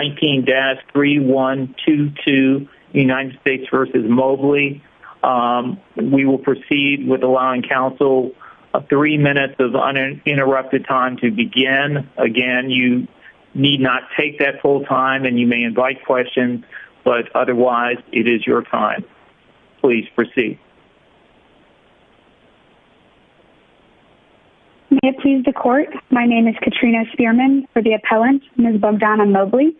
19-3122 United States v. Mobley. We will proceed with allowing counsel three minutes of uninterrupted time to begin. Again, you need not take that full time and you may invite questions, but otherwise it is your time. Please proceed. May it please the court, my name is Katrina Spearman for the appellant, Ms. Bogdana Mobley.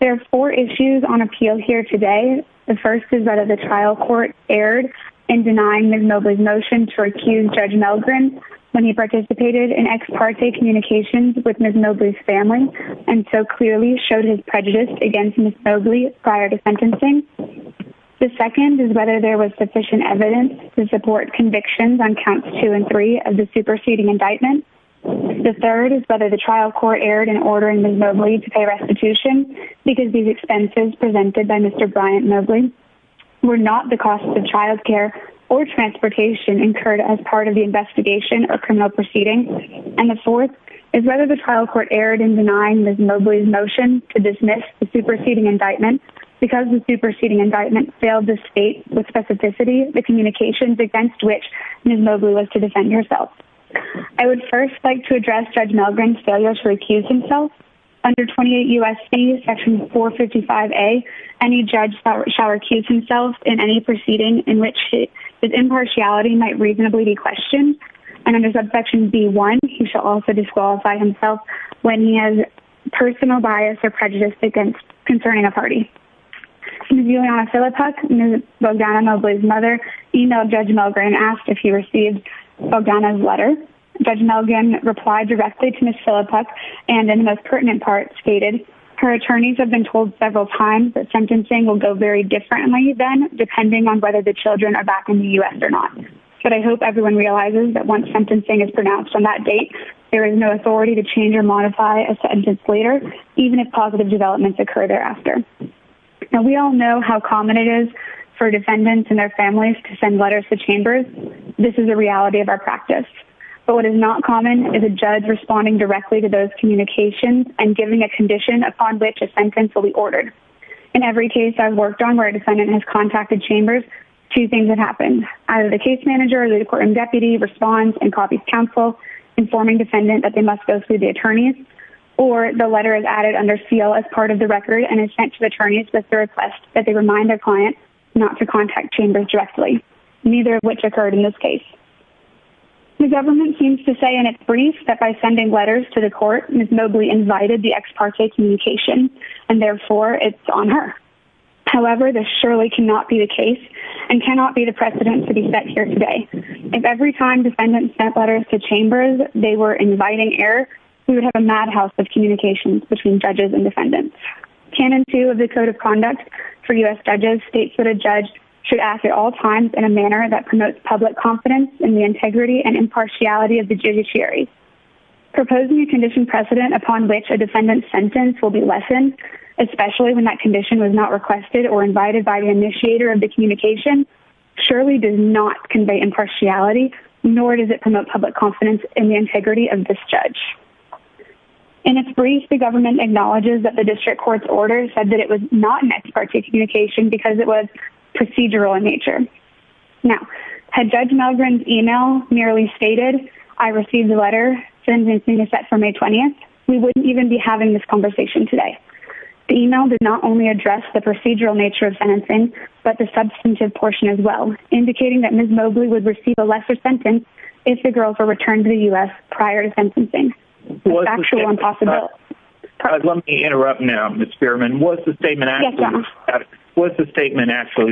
There are four issues on appeal here today. The first is whether the trial court erred in denying Ms. Mobley's motion to recuse Judge Melgren when he participated in ex parte communications with Ms. Mobley's family and so clearly showed his prejudice against Ms. Mobley prior to sentencing. The second is whether there was sufficient evidence to support convictions on counts two and three of the superseding indictment. The third is whether the trial court erred in ordering Ms. Mobley to pay restitution because these expenses presented by Mr. Bryant Mobley were not the cost of childcare or transportation incurred as part of the investigation or criminal proceeding. And the fourth is whether the superseding indictment failed to state with specificity the communications against which Ms. Mobley was to defend herself. I would first like to address Judge Melgren's failure to recuse himself. Under 28 U.S.C. section 455A, any judge shall recuse himself in any proceeding in which his impartiality might reasonably be questioned. And under subsection B1, he shall also disqualify himself when he has personal bias or prejudice against concerning a party. Ms. Juliana Philipuk, Ms. Bogdana Mobley's mother, emailed Judge Melgren and asked if he received Bogdana's letter. Judge Melgren replied directly to Ms. Philipuk and in the most pertinent part stated, her attorneys have been told several times that sentencing will go very differently then depending on whether the children are in the U.S. or not. But I hope everyone realizes that once sentencing is pronounced on that date, there is no authority to change or modify a sentence later, even if positive developments occur thereafter. And we all know how common it is for defendants and their families to send letters to chambers. This is a reality of our practice. But what is not common is a judge responding directly to those communications and giving a condition upon which a sentence will be ordered. In every case I've worked on where a defendant has contacted chambers, two things have happened. Either the case manager or the court and deputy responds and copies counsel informing defendant that they must go through the attorneys or the letter is added under seal as part of the record and is sent to the attorneys with the request that they remind their client not to contact chambers directly, neither of which occurred in this case. The government seems to say in its brief that by sending letters to the court, Ms. Mobley invited the ex parte communication and therefore it's on her. However, this surely cannot be the case and cannot be the precedent to be set here today. If every time defendants sent letters to chambers, they were inviting error, we would have a madhouse of communications between judges and defendants. Canon two of the code of conduct for US judges states that a judge should ask at all times in a manner that promotes public confidence in the integrity and impartiality of the judiciary. Proposing a condition precedent upon which a defendant's sentence will be lessened, especially when that condition was not requested or invited by the initiator of the communication surely does not convey impartiality, nor does it promote public confidence in the integrity of this judge. In its brief, the government acknowledges that the district court's orders said that it was not an ex parte communication because it was procedural in nature. Now, had judge Melgrin's email merely stated, I received a letter sending me to set for May 20th. We wouldn't even be having this substantive portion as well, indicating that Ms. Mobley would receive a lesser sentence if the girl were returned to the US prior to sentencing. Let me interrupt now, Ms. Spearman. Was the statement actually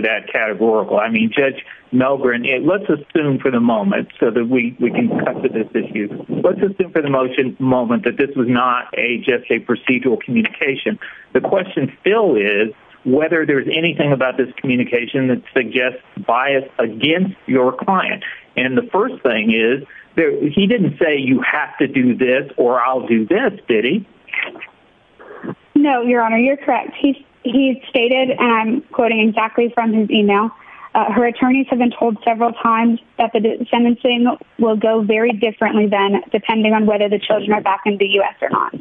that categorical? I mean, Judge Melgrin, let's assume for the moment so that we can cut to this issue. Let's assume for the moment that this was not just a procedural communication. The question, Phil, is whether there's anything about this communication that suggests bias against your client. And the first thing is, he didn't say you have to do this or I'll do this, did he? No, Your Honor, you're correct. He stated, and I'm quoting exactly from his email, her attorneys have been told several times that the sentencing will go very differently then depending on whether the children are back in the US or not.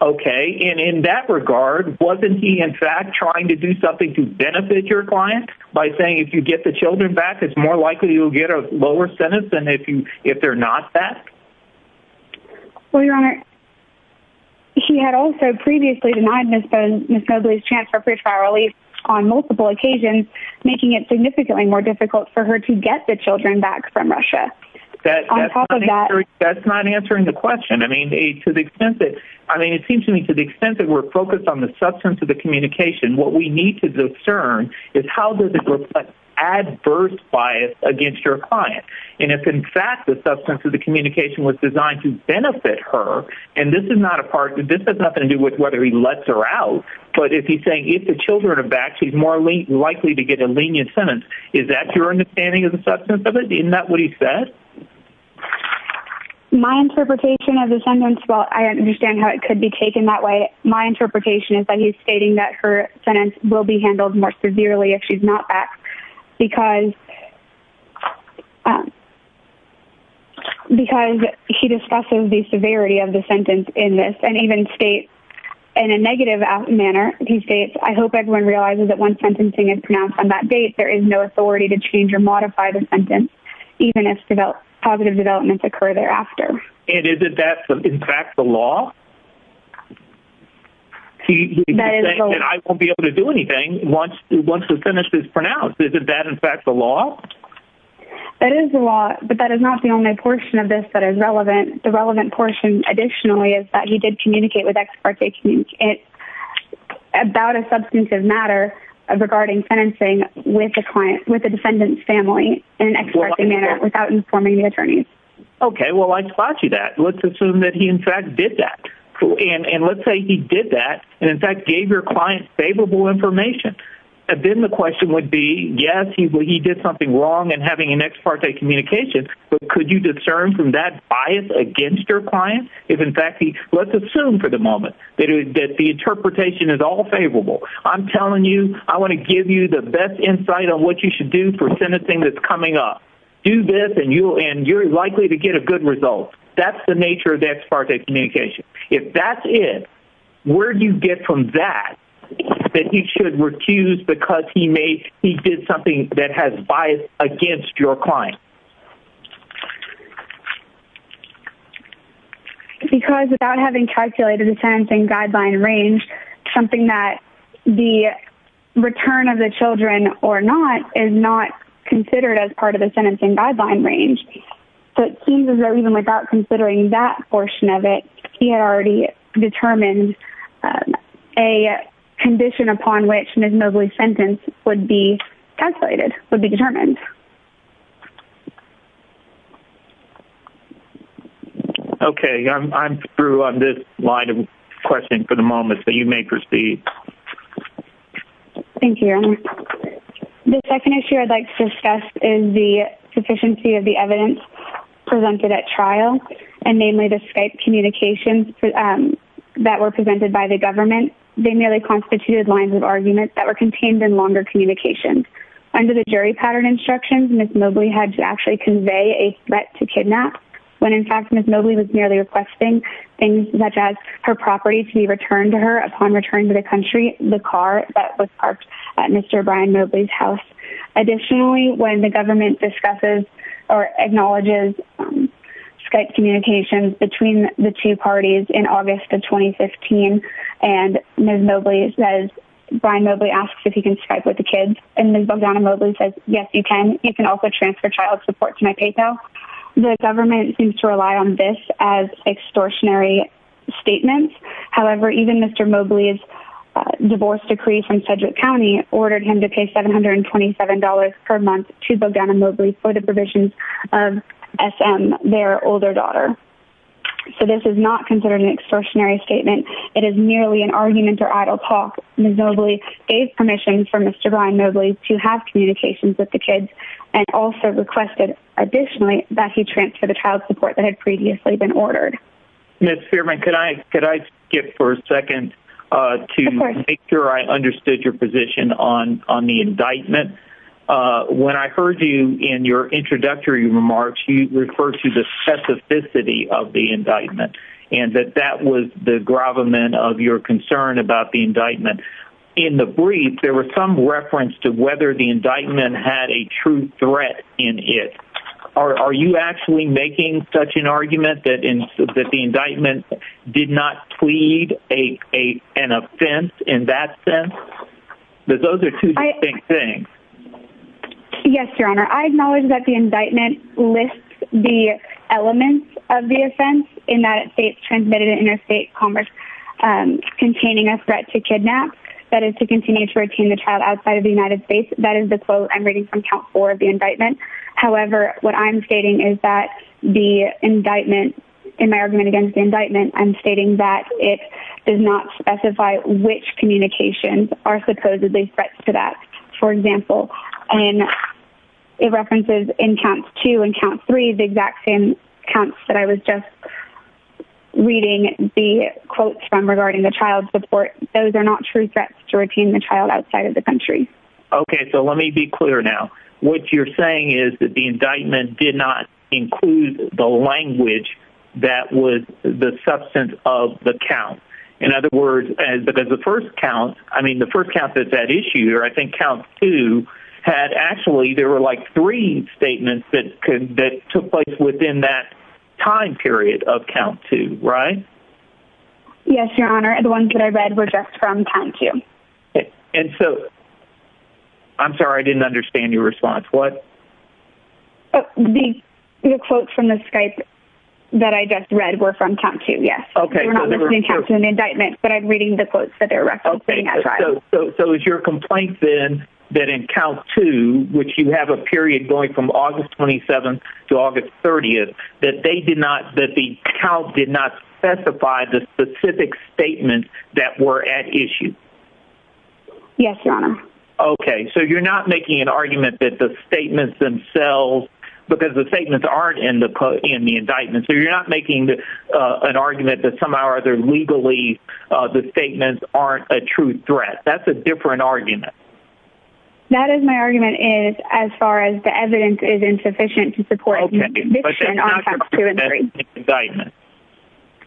Okay, and in that regard, wasn't he in fact trying to do something to benefit your client by saying if you get the children back, it's more likely you'll get a lower sentence than if they're not back? Well, Your Honor, he had also previously denied Ms. Mobley's chance for free trial release on multiple occasions, making it significantly more difficult for her to get the children back from Russia. That's not answering the question. I mean, to the extent that we're focused on the substance of the communication, what we need to discern is how does it reflect adverse bias against your client? And if in fact the substance of the communication was designed to benefit her, and this is not a part, this has nothing to do with whether he lets her out, but if he's saying if the children are back, she's more likely to get a lenient sentence, is that your understanding of the substance of it? Isn't that what he said? My interpretation of the sentence, well, I understand how it could be taken that way. My interpretation is that he's stating that her sentence will be handled more severely if she's not back because he discusses the severity of the sentence in this and even states in a negative manner, he states, I hope everyone realizes that when sentencing is pronounced on that date, there is no authority to change or modify the sentence, even if positive developments occur thereafter. And is that in fact the law? He's saying I won't be able to do anything once the sentence is pronounced. Is that in fact the law? That is the law, but that is not the only portion of this that is relevant. The relevant portion additionally is that he did communicate with the defendant's family in an ex-parte manner without informing the attorneys. Okay. Well, I spot you that. Let's assume that he in fact did that. And let's say he did that and in fact gave your client favorable information. And then the question would be, yes, he did something wrong in having an ex-parte communication, but could you discern from that bias against your client? If in fact, let's assume for the moment that the interpretation is all favorable, I'm telling you, I want to give you the best insight on what you should do for sentencing that's coming up. Do this and you're likely to get a good result. That's the nature of the ex-parte communication. If that's it, where do you get from that that he should recuse because he did something that has bias against your client? Because without having calculated the sentencing guideline range, something that the return of the children or not is not considered as part of the sentencing guideline range. So it seems as though even without considering that portion of it, he had already determined a condition upon which Ms. Mosley's sentence would be calculated, would be determined. Okay. I'm through on this line of questioning for the moment, so you may proceed. Thank you, Aaron. The second issue I'd like to discuss is the sufficiency of the evidence presented at trial, and namely the Skype communications that were presented by the government. They merely constituted lines of argument that were contained in longer communication. Under the jury pattern instructions, Ms. Mosley had to actually convey a threat to kidnap when, in fact, Ms. Mosley was merely requesting things such as her property to be returned to her upon return to the country, the car that was parked at Mr. Brian Mosley's house. Additionally, when the government discusses or acknowledges Skype communications between the two parties in Bogdano-Mosley says, yes, you can. You can also transfer child support to my PayPal. The government seems to rely on this as extortionary statements. However, even Mr. Mosley's divorce decree from Sedgwick County ordered him to pay $727 per month to Bogdano-Mosley for the provisions of SM, their older daughter. So this is not considered an extortionary statement. It is merely an argument or idle talk. Ms. Mosley gave permission for Mr. Brian Mosley to have communications with the kids and also requested, additionally, that he transfer the child support that had previously been ordered. Ms. Fearman, could I skip for a second to make sure I understood your position on the indictment? When I heard you in your introductory remarks, you referred to the specificity of the indictment and that that was the gravamen of your concern about the indictment. In the brief, there was some reference to whether the indictment had a true threat in it. Are you actually making such an argument that the indictment did not plead an offense in that sense? Those are two distinct things. Yes, Your Honor. I acknowledge that the indictment lists the elements of the offense in that it states, transmitted in interstate commerce, containing a threat to kidnap, that is to continue to retain the child outside of the United States. That is the quote I'm reading from count four of the indictment. However, what I'm stating is that the indictment, in my argument against the indictment, I'm stating that it does not specify which communications are supposedly threats to that. For example, it references in count two and count three the exact same counts that I was just reading the quotes from regarding the child support. Those are not true threats to retain the child outside of the country. Okay, so let me be clear now. What you're saying is that the indictment did not include the language that was the substance of the count. In other words, because the first count, I mean the first count that's at issue here, I think count two had actually, there were like three statements that took place within that time period of count two, right? Yes, Your Honor. The ones that I read were just from count two. And so, I'm sorry, I didn't understand your response. What? The quotes from the Skype that I just read were from count two, yes. We're not listening to an indictment, but I'm reading the quotes that are referencing that child. So, is your complaint then that in count two, which you have a period going from August 27th to August 30th, that the count did not specify the specific statements that were at issue? Yes, Your Honor. Okay, so you're not making an argument that the statements themselves, because the statements aren't in the indictment. So, you're not making an argument that somehow or other, legally, the statements aren't a true threat. That's a different argument. That is my argument, as far as the evidence is insufficient to support an indictment on counts two and three. Okay, but that's not your complaint in the indictment?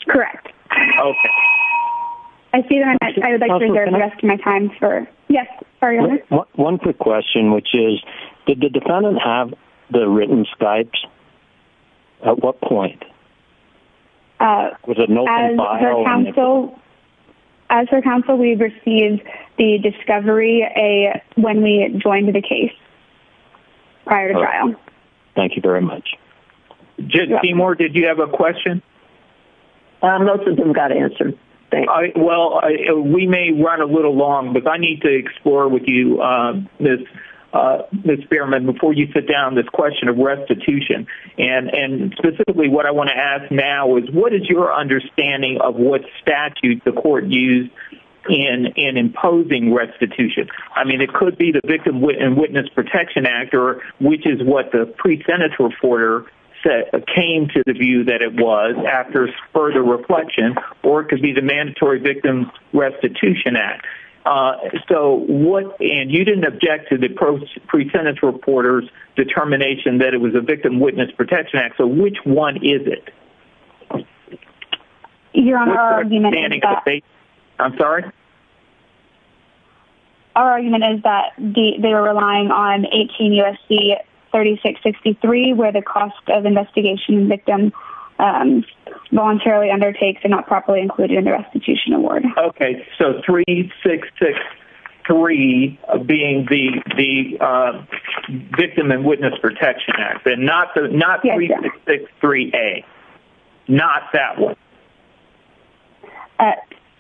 Correct. Okay. I see that. I would like to reserve the rest of my time for... Yes, sorry, Your Honor. One quick question, which is, did the defendant have the written Skypes? At what point? Was it an open file? As her counsel, we received the discovery when we joined the case, prior to trial. Thank you very much. Jen Seymour, did you have a question? Most of them got answered, thanks. Well, we may run a little long, but I need to explore with you, Ms. Behrman, before you sit down, this question of restitution. Specifically, what I want to ask now is, what is your understanding of what statute the court used in imposing restitution? I mean, it could be the Victim and Witness Protection Act, which is what the pre-Senate reporter came to the view that it was, after further reflection, or it could be the Mandatory Victim Restitution Act. You didn't object to the pre-Senate reporter's determination that it was a Victim and Witness Protection Act, so which one is it? Your Honor, our argument is that... I'm sorry? Our argument is that they were relying on 18 U.S.C. 3663, where the cost of investigation victim voluntarily undertakes and not properly included in the restitution award. Okay, so 3663 being the Victim and Witness Protection Act, and not 3663A, not that one?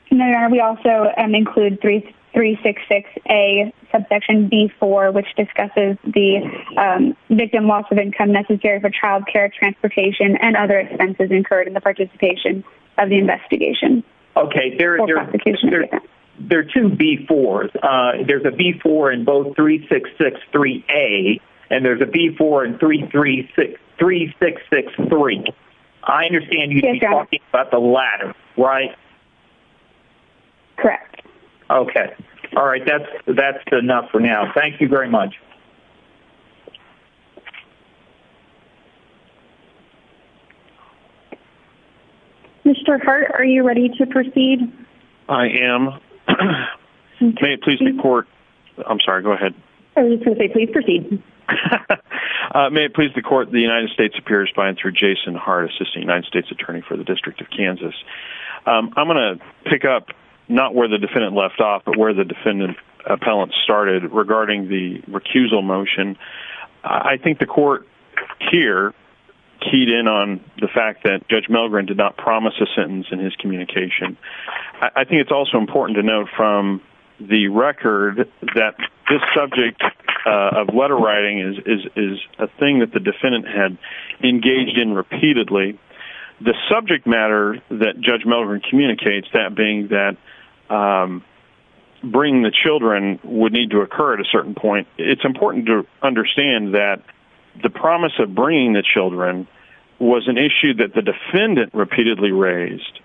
Your Honor, we also include 366A, subsection B-4, which discusses the victim loss of income necessary for child care, transportation, and other expenses incurred in the participation of the investigation. Okay, there are two B-4s. There's a B-4 in both 3663A, and there's a B-4 in 3663. I understand you're talking about the latter, right? Correct. Okay, all right, that's enough for now. Thank you very much. Mr. Hart, are you ready to proceed? I am. May it please the Court... I'm sorry, go ahead. I was going to say, please proceed. May it please the Court, the United States Appears by and through Jason Hart, Assisting United States Attorney for the District of Kansas. I'm going to pick up not where the defendant left off, but where the defendant appellant started regarding the recusal motion. I think the Court here keyed in on the fact that Judge Milgren did not promise a sentence in his communication. I think it's also important to note from the record that this subject of letter writing is a thing that the defendant had engaged in repeatedly. The subject matter that Judge Milgren communicates, that being that bringing the children would need to occur at a certain point, it's important to understand that the defendant repeatedly raised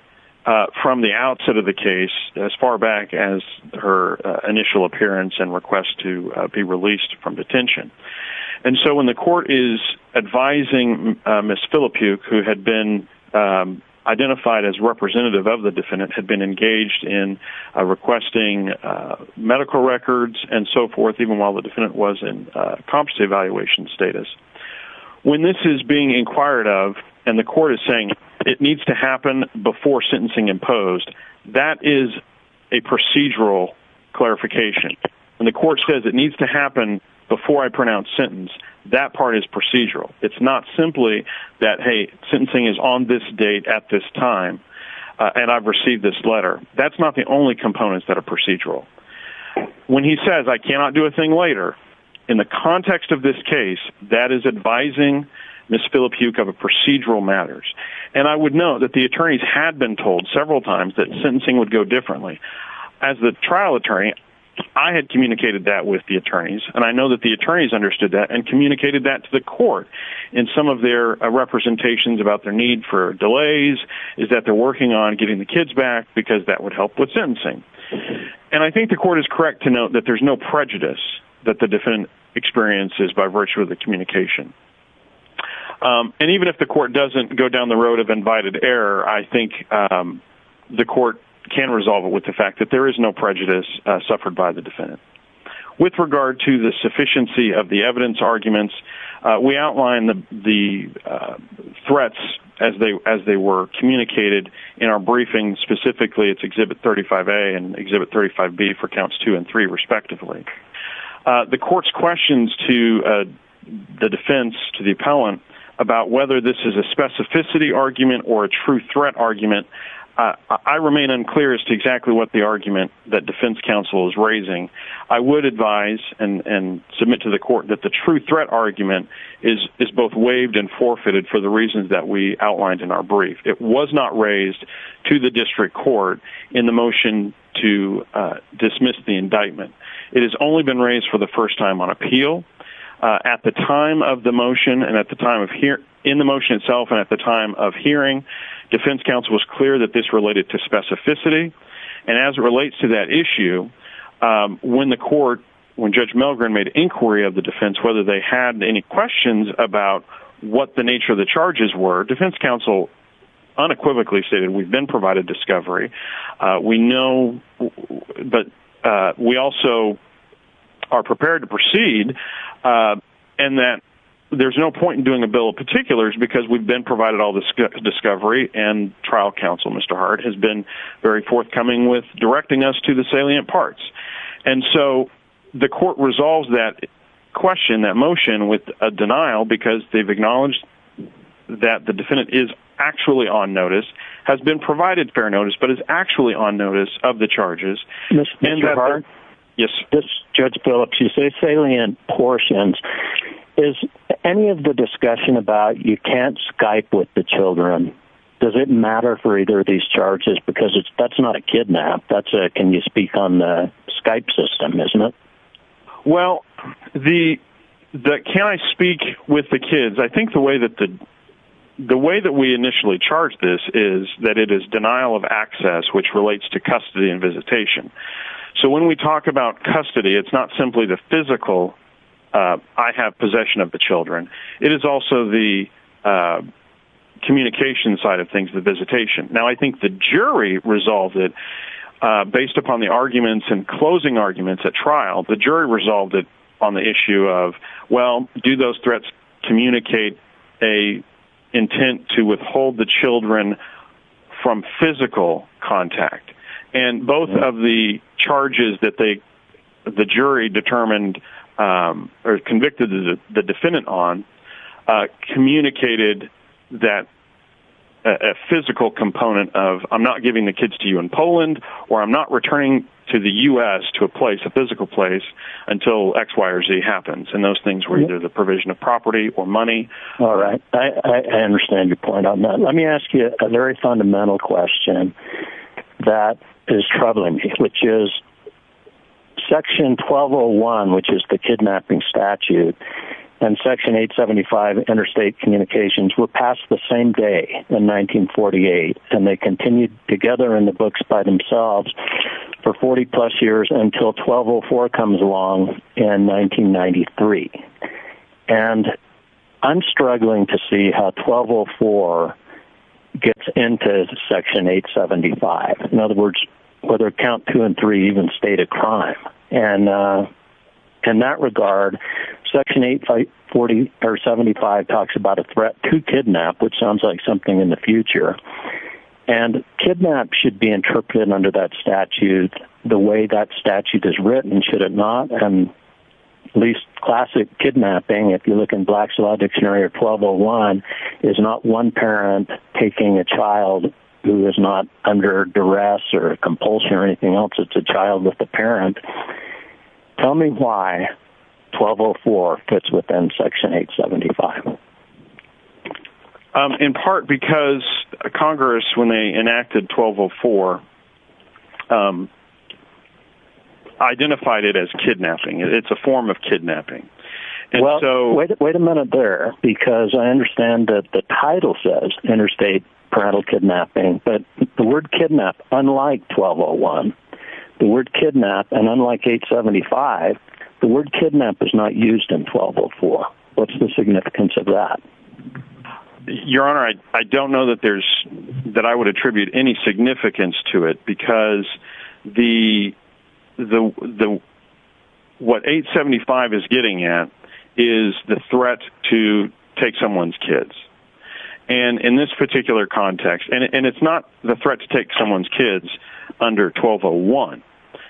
from the outset of the case, as far back as her initial appearance and request to be released from detention. And so when the Court is advising Ms. Filippuk, who had been identified as representative of the defendant, had been engaged in requesting medical records and so forth, even while the defendant was in compulsive evaluation status, when this is being inquired of and the Court is saying it needs to happen before sentencing imposed, that is a procedural clarification. When the Court says it needs to happen before I pronounce sentence, that part is procedural. It's not simply that, hey, sentencing is on this date at this time and I've received this letter. That's not the only components that are procedural. When he says I cannot do a thing later, in the context of this case, that is advising Ms. Filippuk of procedural matters. And I would note that the attorneys had been told several times that sentencing would go differently. As the trial attorney, I had communicated that with the attorneys, and I know that the attorneys understood that and communicated that to the Court in some of their representations about their need for delays, is that they're working on getting the kids back because that would help with sentencing. And I think the Court is correct to note that there's no prejudice that the defendant experiences by virtue of the communication. And even if the Court doesn't go down the road of invited error, I think the Court can resolve it with the fact that there is no prejudice suffered by the defendant. With regard to the sufficiency of the evidence arguments, we outline the threats as they were communicated in our briefing, specifically it's Exhibit 35A and Exhibit 35B for Counts 2 and 3, respectively. The Court's questions to the defense, to the appellant, about whether this is a specificity argument or a true threat argument, I remain unclear as to exactly what the argument that the true threat argument is both waived and forfeited for the reasons that we outlined in our brief. It was not raised to the District Court in the motion to dismiss the indictment. It has only been raised for the first time on appeal. At the time of the motion and at the time of hearing, defense counsel was clear that this related to specificity. And as it relates to that defense, whether they had any questions about what the nature of the charges were, defense counsel unequivocally stated we've been provided discovery. We know, but we also are prepared to proceed and that there's no point in doing a bill of particulars because we've been provided all this discovery and trial counsel, Mr. Hart, has been very forthcoming with directing us to the salient parts. And so the Court resolves that question, that motion with a denial because they've acknowledged that the defendant is actually on notice, has been provided fair notice, but is actually on notice of the charges. Mr. Hart? Yes. Judge Phillips, you say salient portions. Is any of the discussion about you can't Skype with the children, does it matter for either of these charges? Because that's not a kidnap. Can you speak on the Skype system, isn't it? Well, can I speak with the kids? I think the way that we initially charged this is that it is denial of access, which relates to custody and visitation. So when we talk about custody, it's not simply the physical, I have possession of the children. It is also the communication side of things, the visitation. Now, I think the jury resolved it based upon the arguments and closing arguments at trial. The jury resolved it on the issue of, well, do those threats communicate a intent to withhold the children from physical contact? And both of the charges that the jury determined, or convicted the defendant on, communicated that physical component of, I'm not giving the kids to you in Poland, or I'm not returning to the U.S. to a place, a physical place, until X, Y, or Z happens. And those things were either the provision of property or money. All right. I understand your point on that. Let me ask you a very fundamental question that is troubling, which is Section 1201, which is the kidnapping statute, and Section 875, interstate communications, were passed the same day, in 1948, and they continued together in the books by themselves for 40 plus years until 1204 comes along in 1993. And I'm struggling to see how 1204 gets into Section 875. In other words, whether Count 2 and 3 even state a crime. And in that regard, Section 875 talks about a threat to kidnap, which sounds like something in the future. And kidnap should be interpreted under that statute the way that statute is written, should it not. And at least classic kidnapping, if you look in Black's Law Dictionary or 1201, is not one parent taking a child who is not under duress or compulsion or anything else. It's a child with a parent. Tell me why 1204 fits within Section 875. In part because Congress, when they enacted 1204, identified it as kidnapping. It's a form of kidnapping. Well, wait a minute there, because I understand that the title says interstate parental kidnapping, but the word kidnap, unlike 1201, the word kidnap, and unlike 875, the word kidnap is not used in 1204. What's the significance of that? Your Honor, I don't know that I would attribute any significance to it because what 875 is getting at is the threat to take someone's kids. And in this particular context, and it's not the threat to take someone's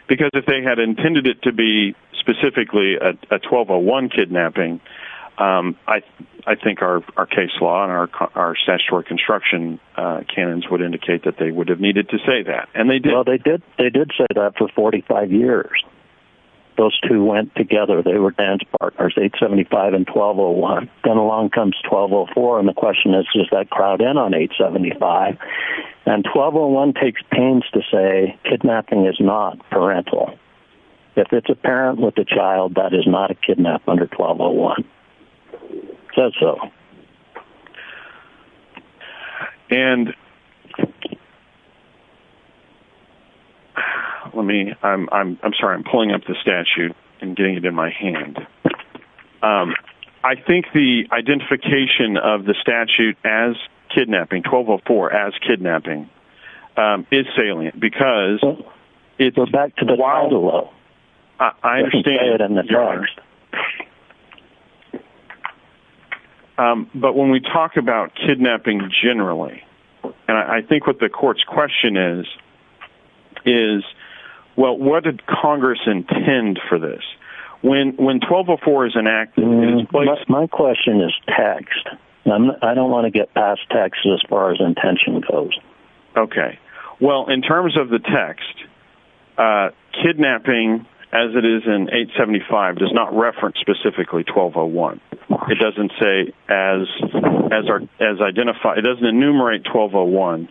because if they had intended it to be specifically a 1201 kidnapping, I think our case law and our statutory construction canons would indicate that they would have needed to say that. Well, they did say that for 45 years. Those two went together. They were dance partners, 875 and 1201. Then along comes 1204, and the question is, does that crowd in on 875? And 1201 takes pains to say kidnapping is not parental. If it's a parent with a child, that is not a kidnap under 1201. It says so. And let me, I'm sorry, I'm pulling up the statute and getting it in my hand. I think the identification of the statute as kidnapping, 1204 as kidnapping, um, is salient because it goes back to the wild. I understand. But when we talk about kidnapping generally, and I think what the court's question is, is, well, what did Congress intend for this? When, when 1204 is enacted, my question is text. I don't want to get past Texas as far as intention goes. Okay. Well, in terms of the text, uh, kidnapping as it is in 875 does not reference specifically 1201. It doesn't say as, as our, as identified, it doesn't enumerate 1201,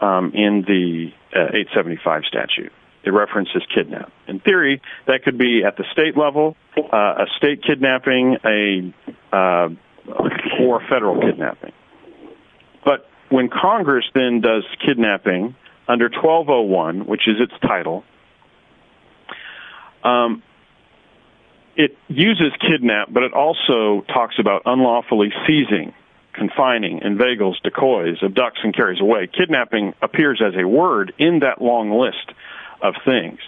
um, in the, uh, 875 statute. It references kidnap in theory that could be at the state level, uh, a state kidnapping, a, uh, or federal kidnapping. But when Congress then does kidnapping under 1201, which is its title, um, it uses kidnap, but it also talks about unlawfully seizing, confining and vagals decoys of ducks and carries away. Kidnapping appears as a word in that long list of things,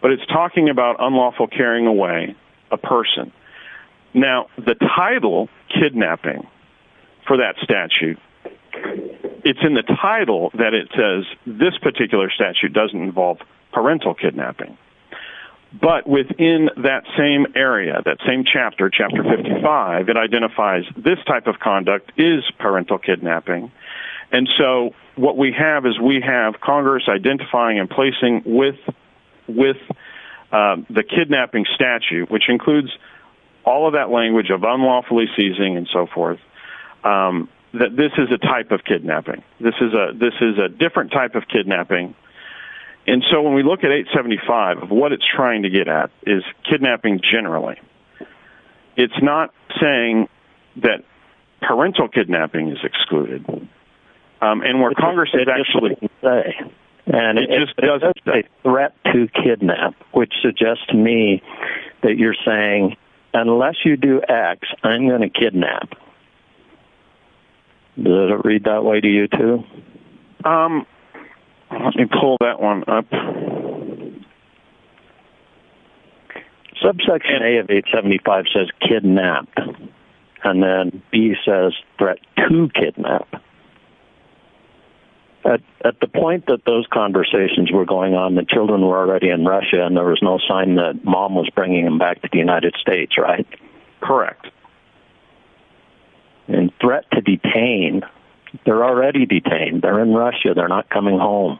but it's talking about unlawful carrying away a person. Now the title kidnapping for that statute, it's in the title that it says this particular statute doesn't involve parental kidnapping, but within that same area, that same chapter, chapter 55, it identifies this type of conduct is parental kidnapping. And so what we have is we have Congress identifying and placing with, with, um, the kidnapping statute, which includes all of that language of unlawfully seizing and so forth, um, that this is a type of kidnapping. This is a, this is a different type of kidnapping. And so when we look at 875 of what it's trying to get at is kidnapping generally, it's not saying that parental kidnapping is excluded. Um, and where Congress has actually say, and it just does a threat to kidnap, which suggests to me that you're saying, unless you do X, I'm going to kidnap. Does it read that way to you too? Um, let me pull that one up. Okay. Subsection A of 875 says kidnap. And then B says threat to kidnap. At the point that those conversations were going on, the children were already in Russia and there was no sign that mom was bringing them back to the United States. Right. Correct. And threat to detain. They're already detained. They're in Russia. They're not coming home.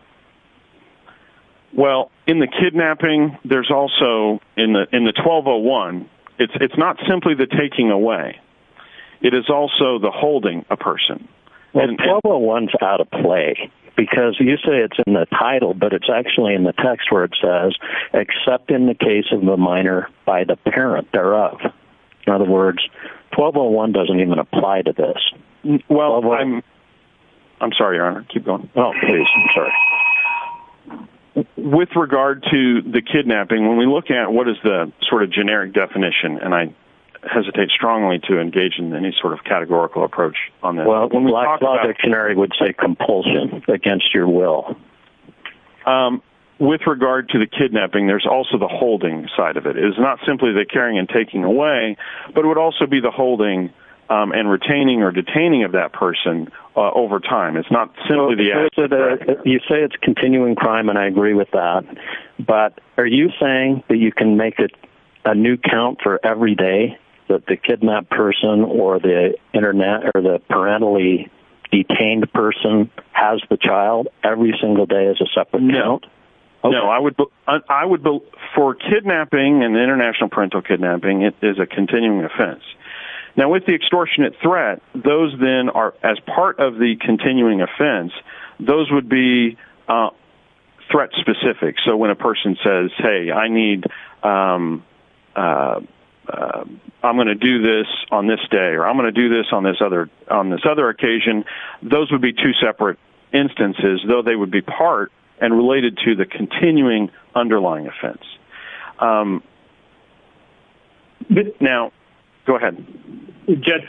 Well, in the kidnapping, there's also in the, in the 1201, it's, it's not simply the taking away. It is also the holding a person. Well, 1201 is out of play because you say it's in the title, but it's actually in the text where it says, except in the case of the minor by the parent thereof. In other words, 1201 doesn't even apply to this. Well, I'm, I'm sorry, your honor. Keep going. Oh, please. I'm sorry. Okay. With regard to the kidnapping, when we look at what is the sort of generic definition, and I hesitate strongly to engage in any sort of categorical approach on that. Well, when we talk about it, it would say compulsion against your will. Um, with regard to the kidnapping, there's also the holding side of it is not simply the carrying and taking away, but it would also be the holding, um, and retaining or detaining of that person over time. It's not simply the, you say it's continuing crime. And I agree with that, but are you saying that you can make it a new count for every day that the kidnapped person or the internet or the parentally detained person has the child every single day as a separate note? No, I would, I would vote for kidnapping and international parental kidnapping. It is a extortionate threat. Those then are as part of the continuing offense, those would be, uh, threat specific. So when a person says, Hey, I need, um, uh, um, I'm going to do this on this day, or I'm going to do this on this other, on this other occasion, those would be two separate instances, though they would be part and related to the continuing underlying offense. Um, now go ahead, just,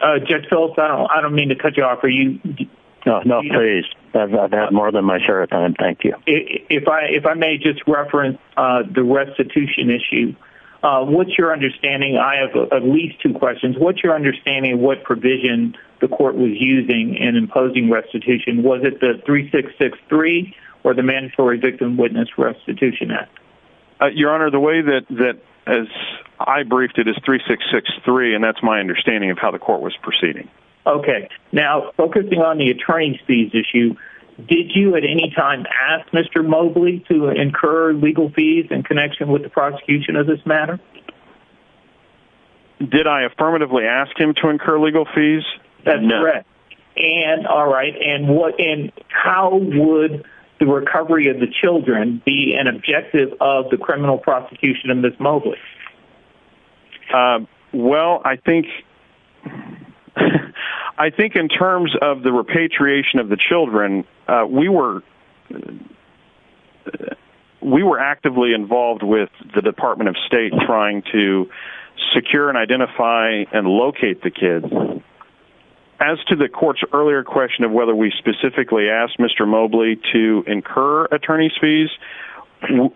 uh, just fill it out. I don't mean to cut you off. Are you, no, no, please. I've had more than my share of time. Thank you. If I, if I may just reference, uh, the restitution issue, uh, what's your understanding? I have at least two questions. What's your understanding, what provision the court was using and imposing restitution? Was it the three six six three or the mandatory victim witness restitution act? Uh, your honor, the way that, as I briefed it is three, six, six, three. And that's my understanding of how the court was proceeding. Okay. Now focusing on the attorney fees issue, did you at any time ask Mr. Mobley to incur legal fees in connection with the prosecution of this matter? Did I affirmatively ask him to incur legal fees? That's correct. And all right. And what, and how would the recovery of the children be an objective of the criminal prosecution in this mobile? Um, well, I think, I think in terms of the repatriation of the children, uh, we were, we were actively involved with the department of state trying to secure and identify and locate the kids as to the court's earlier question of whether we specifically asked Mr. Mobley to incur attorney's fees.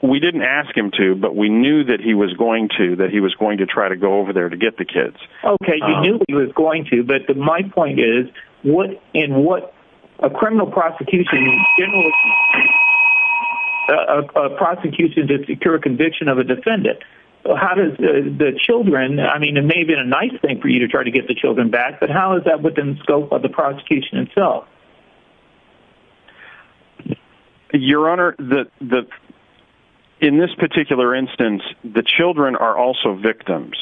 We didn't ask him to, but we knew that he was going to, that he was going to try to go over there to get the kids. Okay. He knew he was going to, but my point is what in what a criminal prosecution, a prosecution to secure a conviction of a defendant. Well, how does the children, I mean, it may have been a nice thing for you to try to get the kids. Your honor, the, the, in this particular instance, the children are also victims.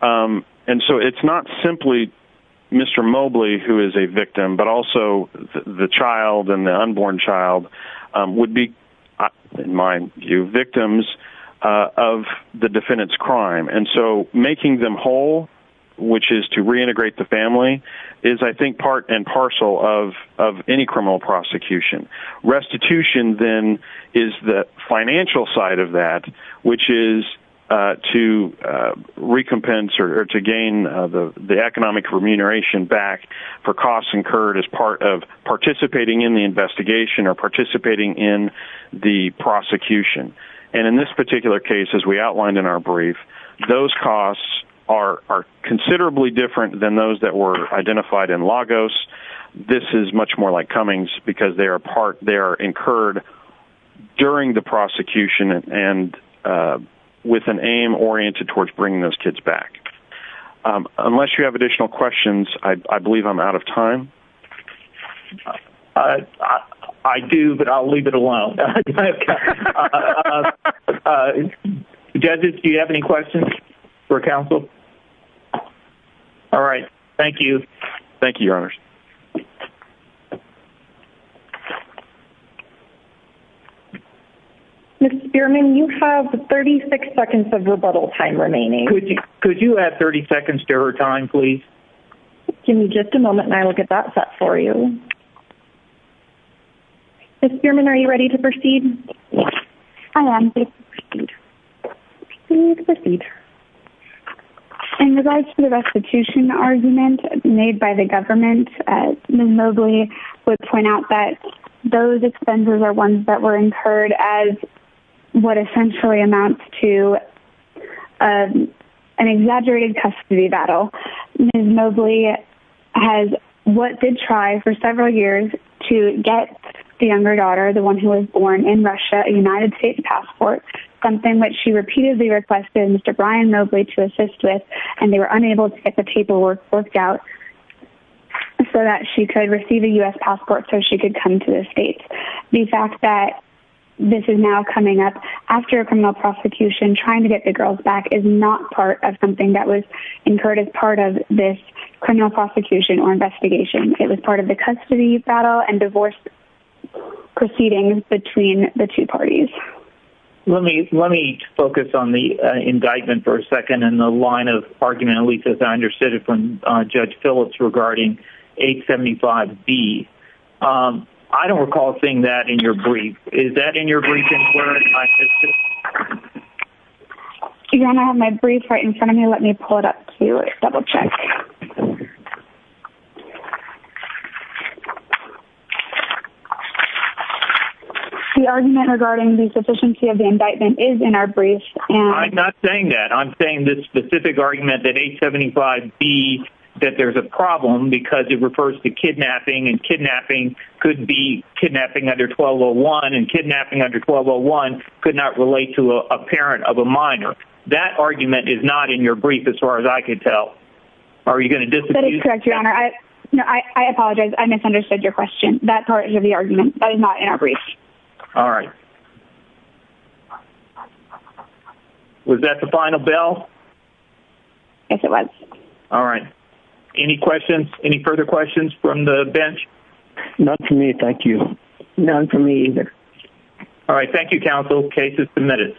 Um, and so it's not simply Mr. Mobley who is a victim, but also the child and the unborn child would be in mind you victims, uh, of the defendant's crime. And so making them whole, which is to reintegrate the family is I think part and parcel of, of any criminal prosecution restitution then is the financial side of that, which is, uh, to, uh, recompense or to gain the, the economic remuneration back for costs incurred as part of participating in the investigation or participating in the prosecution. And in this particular case, as we outlined in our brief, those costs are, are considerably different than those that were identified in Lagos. This is much more like Cummings because they are a part, they're incurred during the prosecution and, uh, with an aim oriented towards bringing those kids back. Um, unless you have additional questions, I believe I'm out of time. I do, but I'll leave it alone. Okay. Uh, judges, do you have any questions for counsel? All right. Thank you. Thank you. Ms. Spearman, you have 36 seconds of rebuttal time remaining. Could you, could you add 30 seconds to her time, please? Give me just a moment and I will get that set for you. Okay. Ms. Spearman, are you ready to proceed? I am. In regards to the restitution argument made by the government, Ms. Mobley would point out that those expenses are ones that were incurred as what essentially amounts to, um, an exaggerated custody battle. Ms. Mobley has what did try for several years to get the younger daughter, the one who was born in Russia, a United States passport, something that she repeatedly requested Mr. Brian Mobley to assist with, and they were unable to get the paperwork worked out so that she could receive a U.S. passport so she could come to the States. The fact that this is now coming up after a criminal prosecution, trying to get the girls is not part of something that was incurred as part of this criminal prosecution or investigation. It was part of the custody battle and divorce proceedings between the two parties. Let me, let me focus on the indictment for a second and the line of argument, at least as I understood it from Judge Phillips regarding 875B. I don't recall seeing that in your brief. Is that in your brief? Do you want to have my brief right in front of me? Let me pull it up to double check. The argument regarding the sufficiency of the indictment is in our brief. I'm not saying that. I'm saying this specific argument that 875B, that there's a problem because it refers to kidnapping and kidnapping could be kidnapping under 1201 and kidnapping under 1201 could not relate to a parent of a minor. That argument is not in your brief as far as I could tell. Are you going to disagree? I apologize. I misunderstood your question. That part of the argument is not in our brief. All right. Was that the final bell? Yes, it was. All right. Any questions? Any further questions from the bench? None for me. Thank you. None for me either. All right. Thank you, counsel. Case is submitted.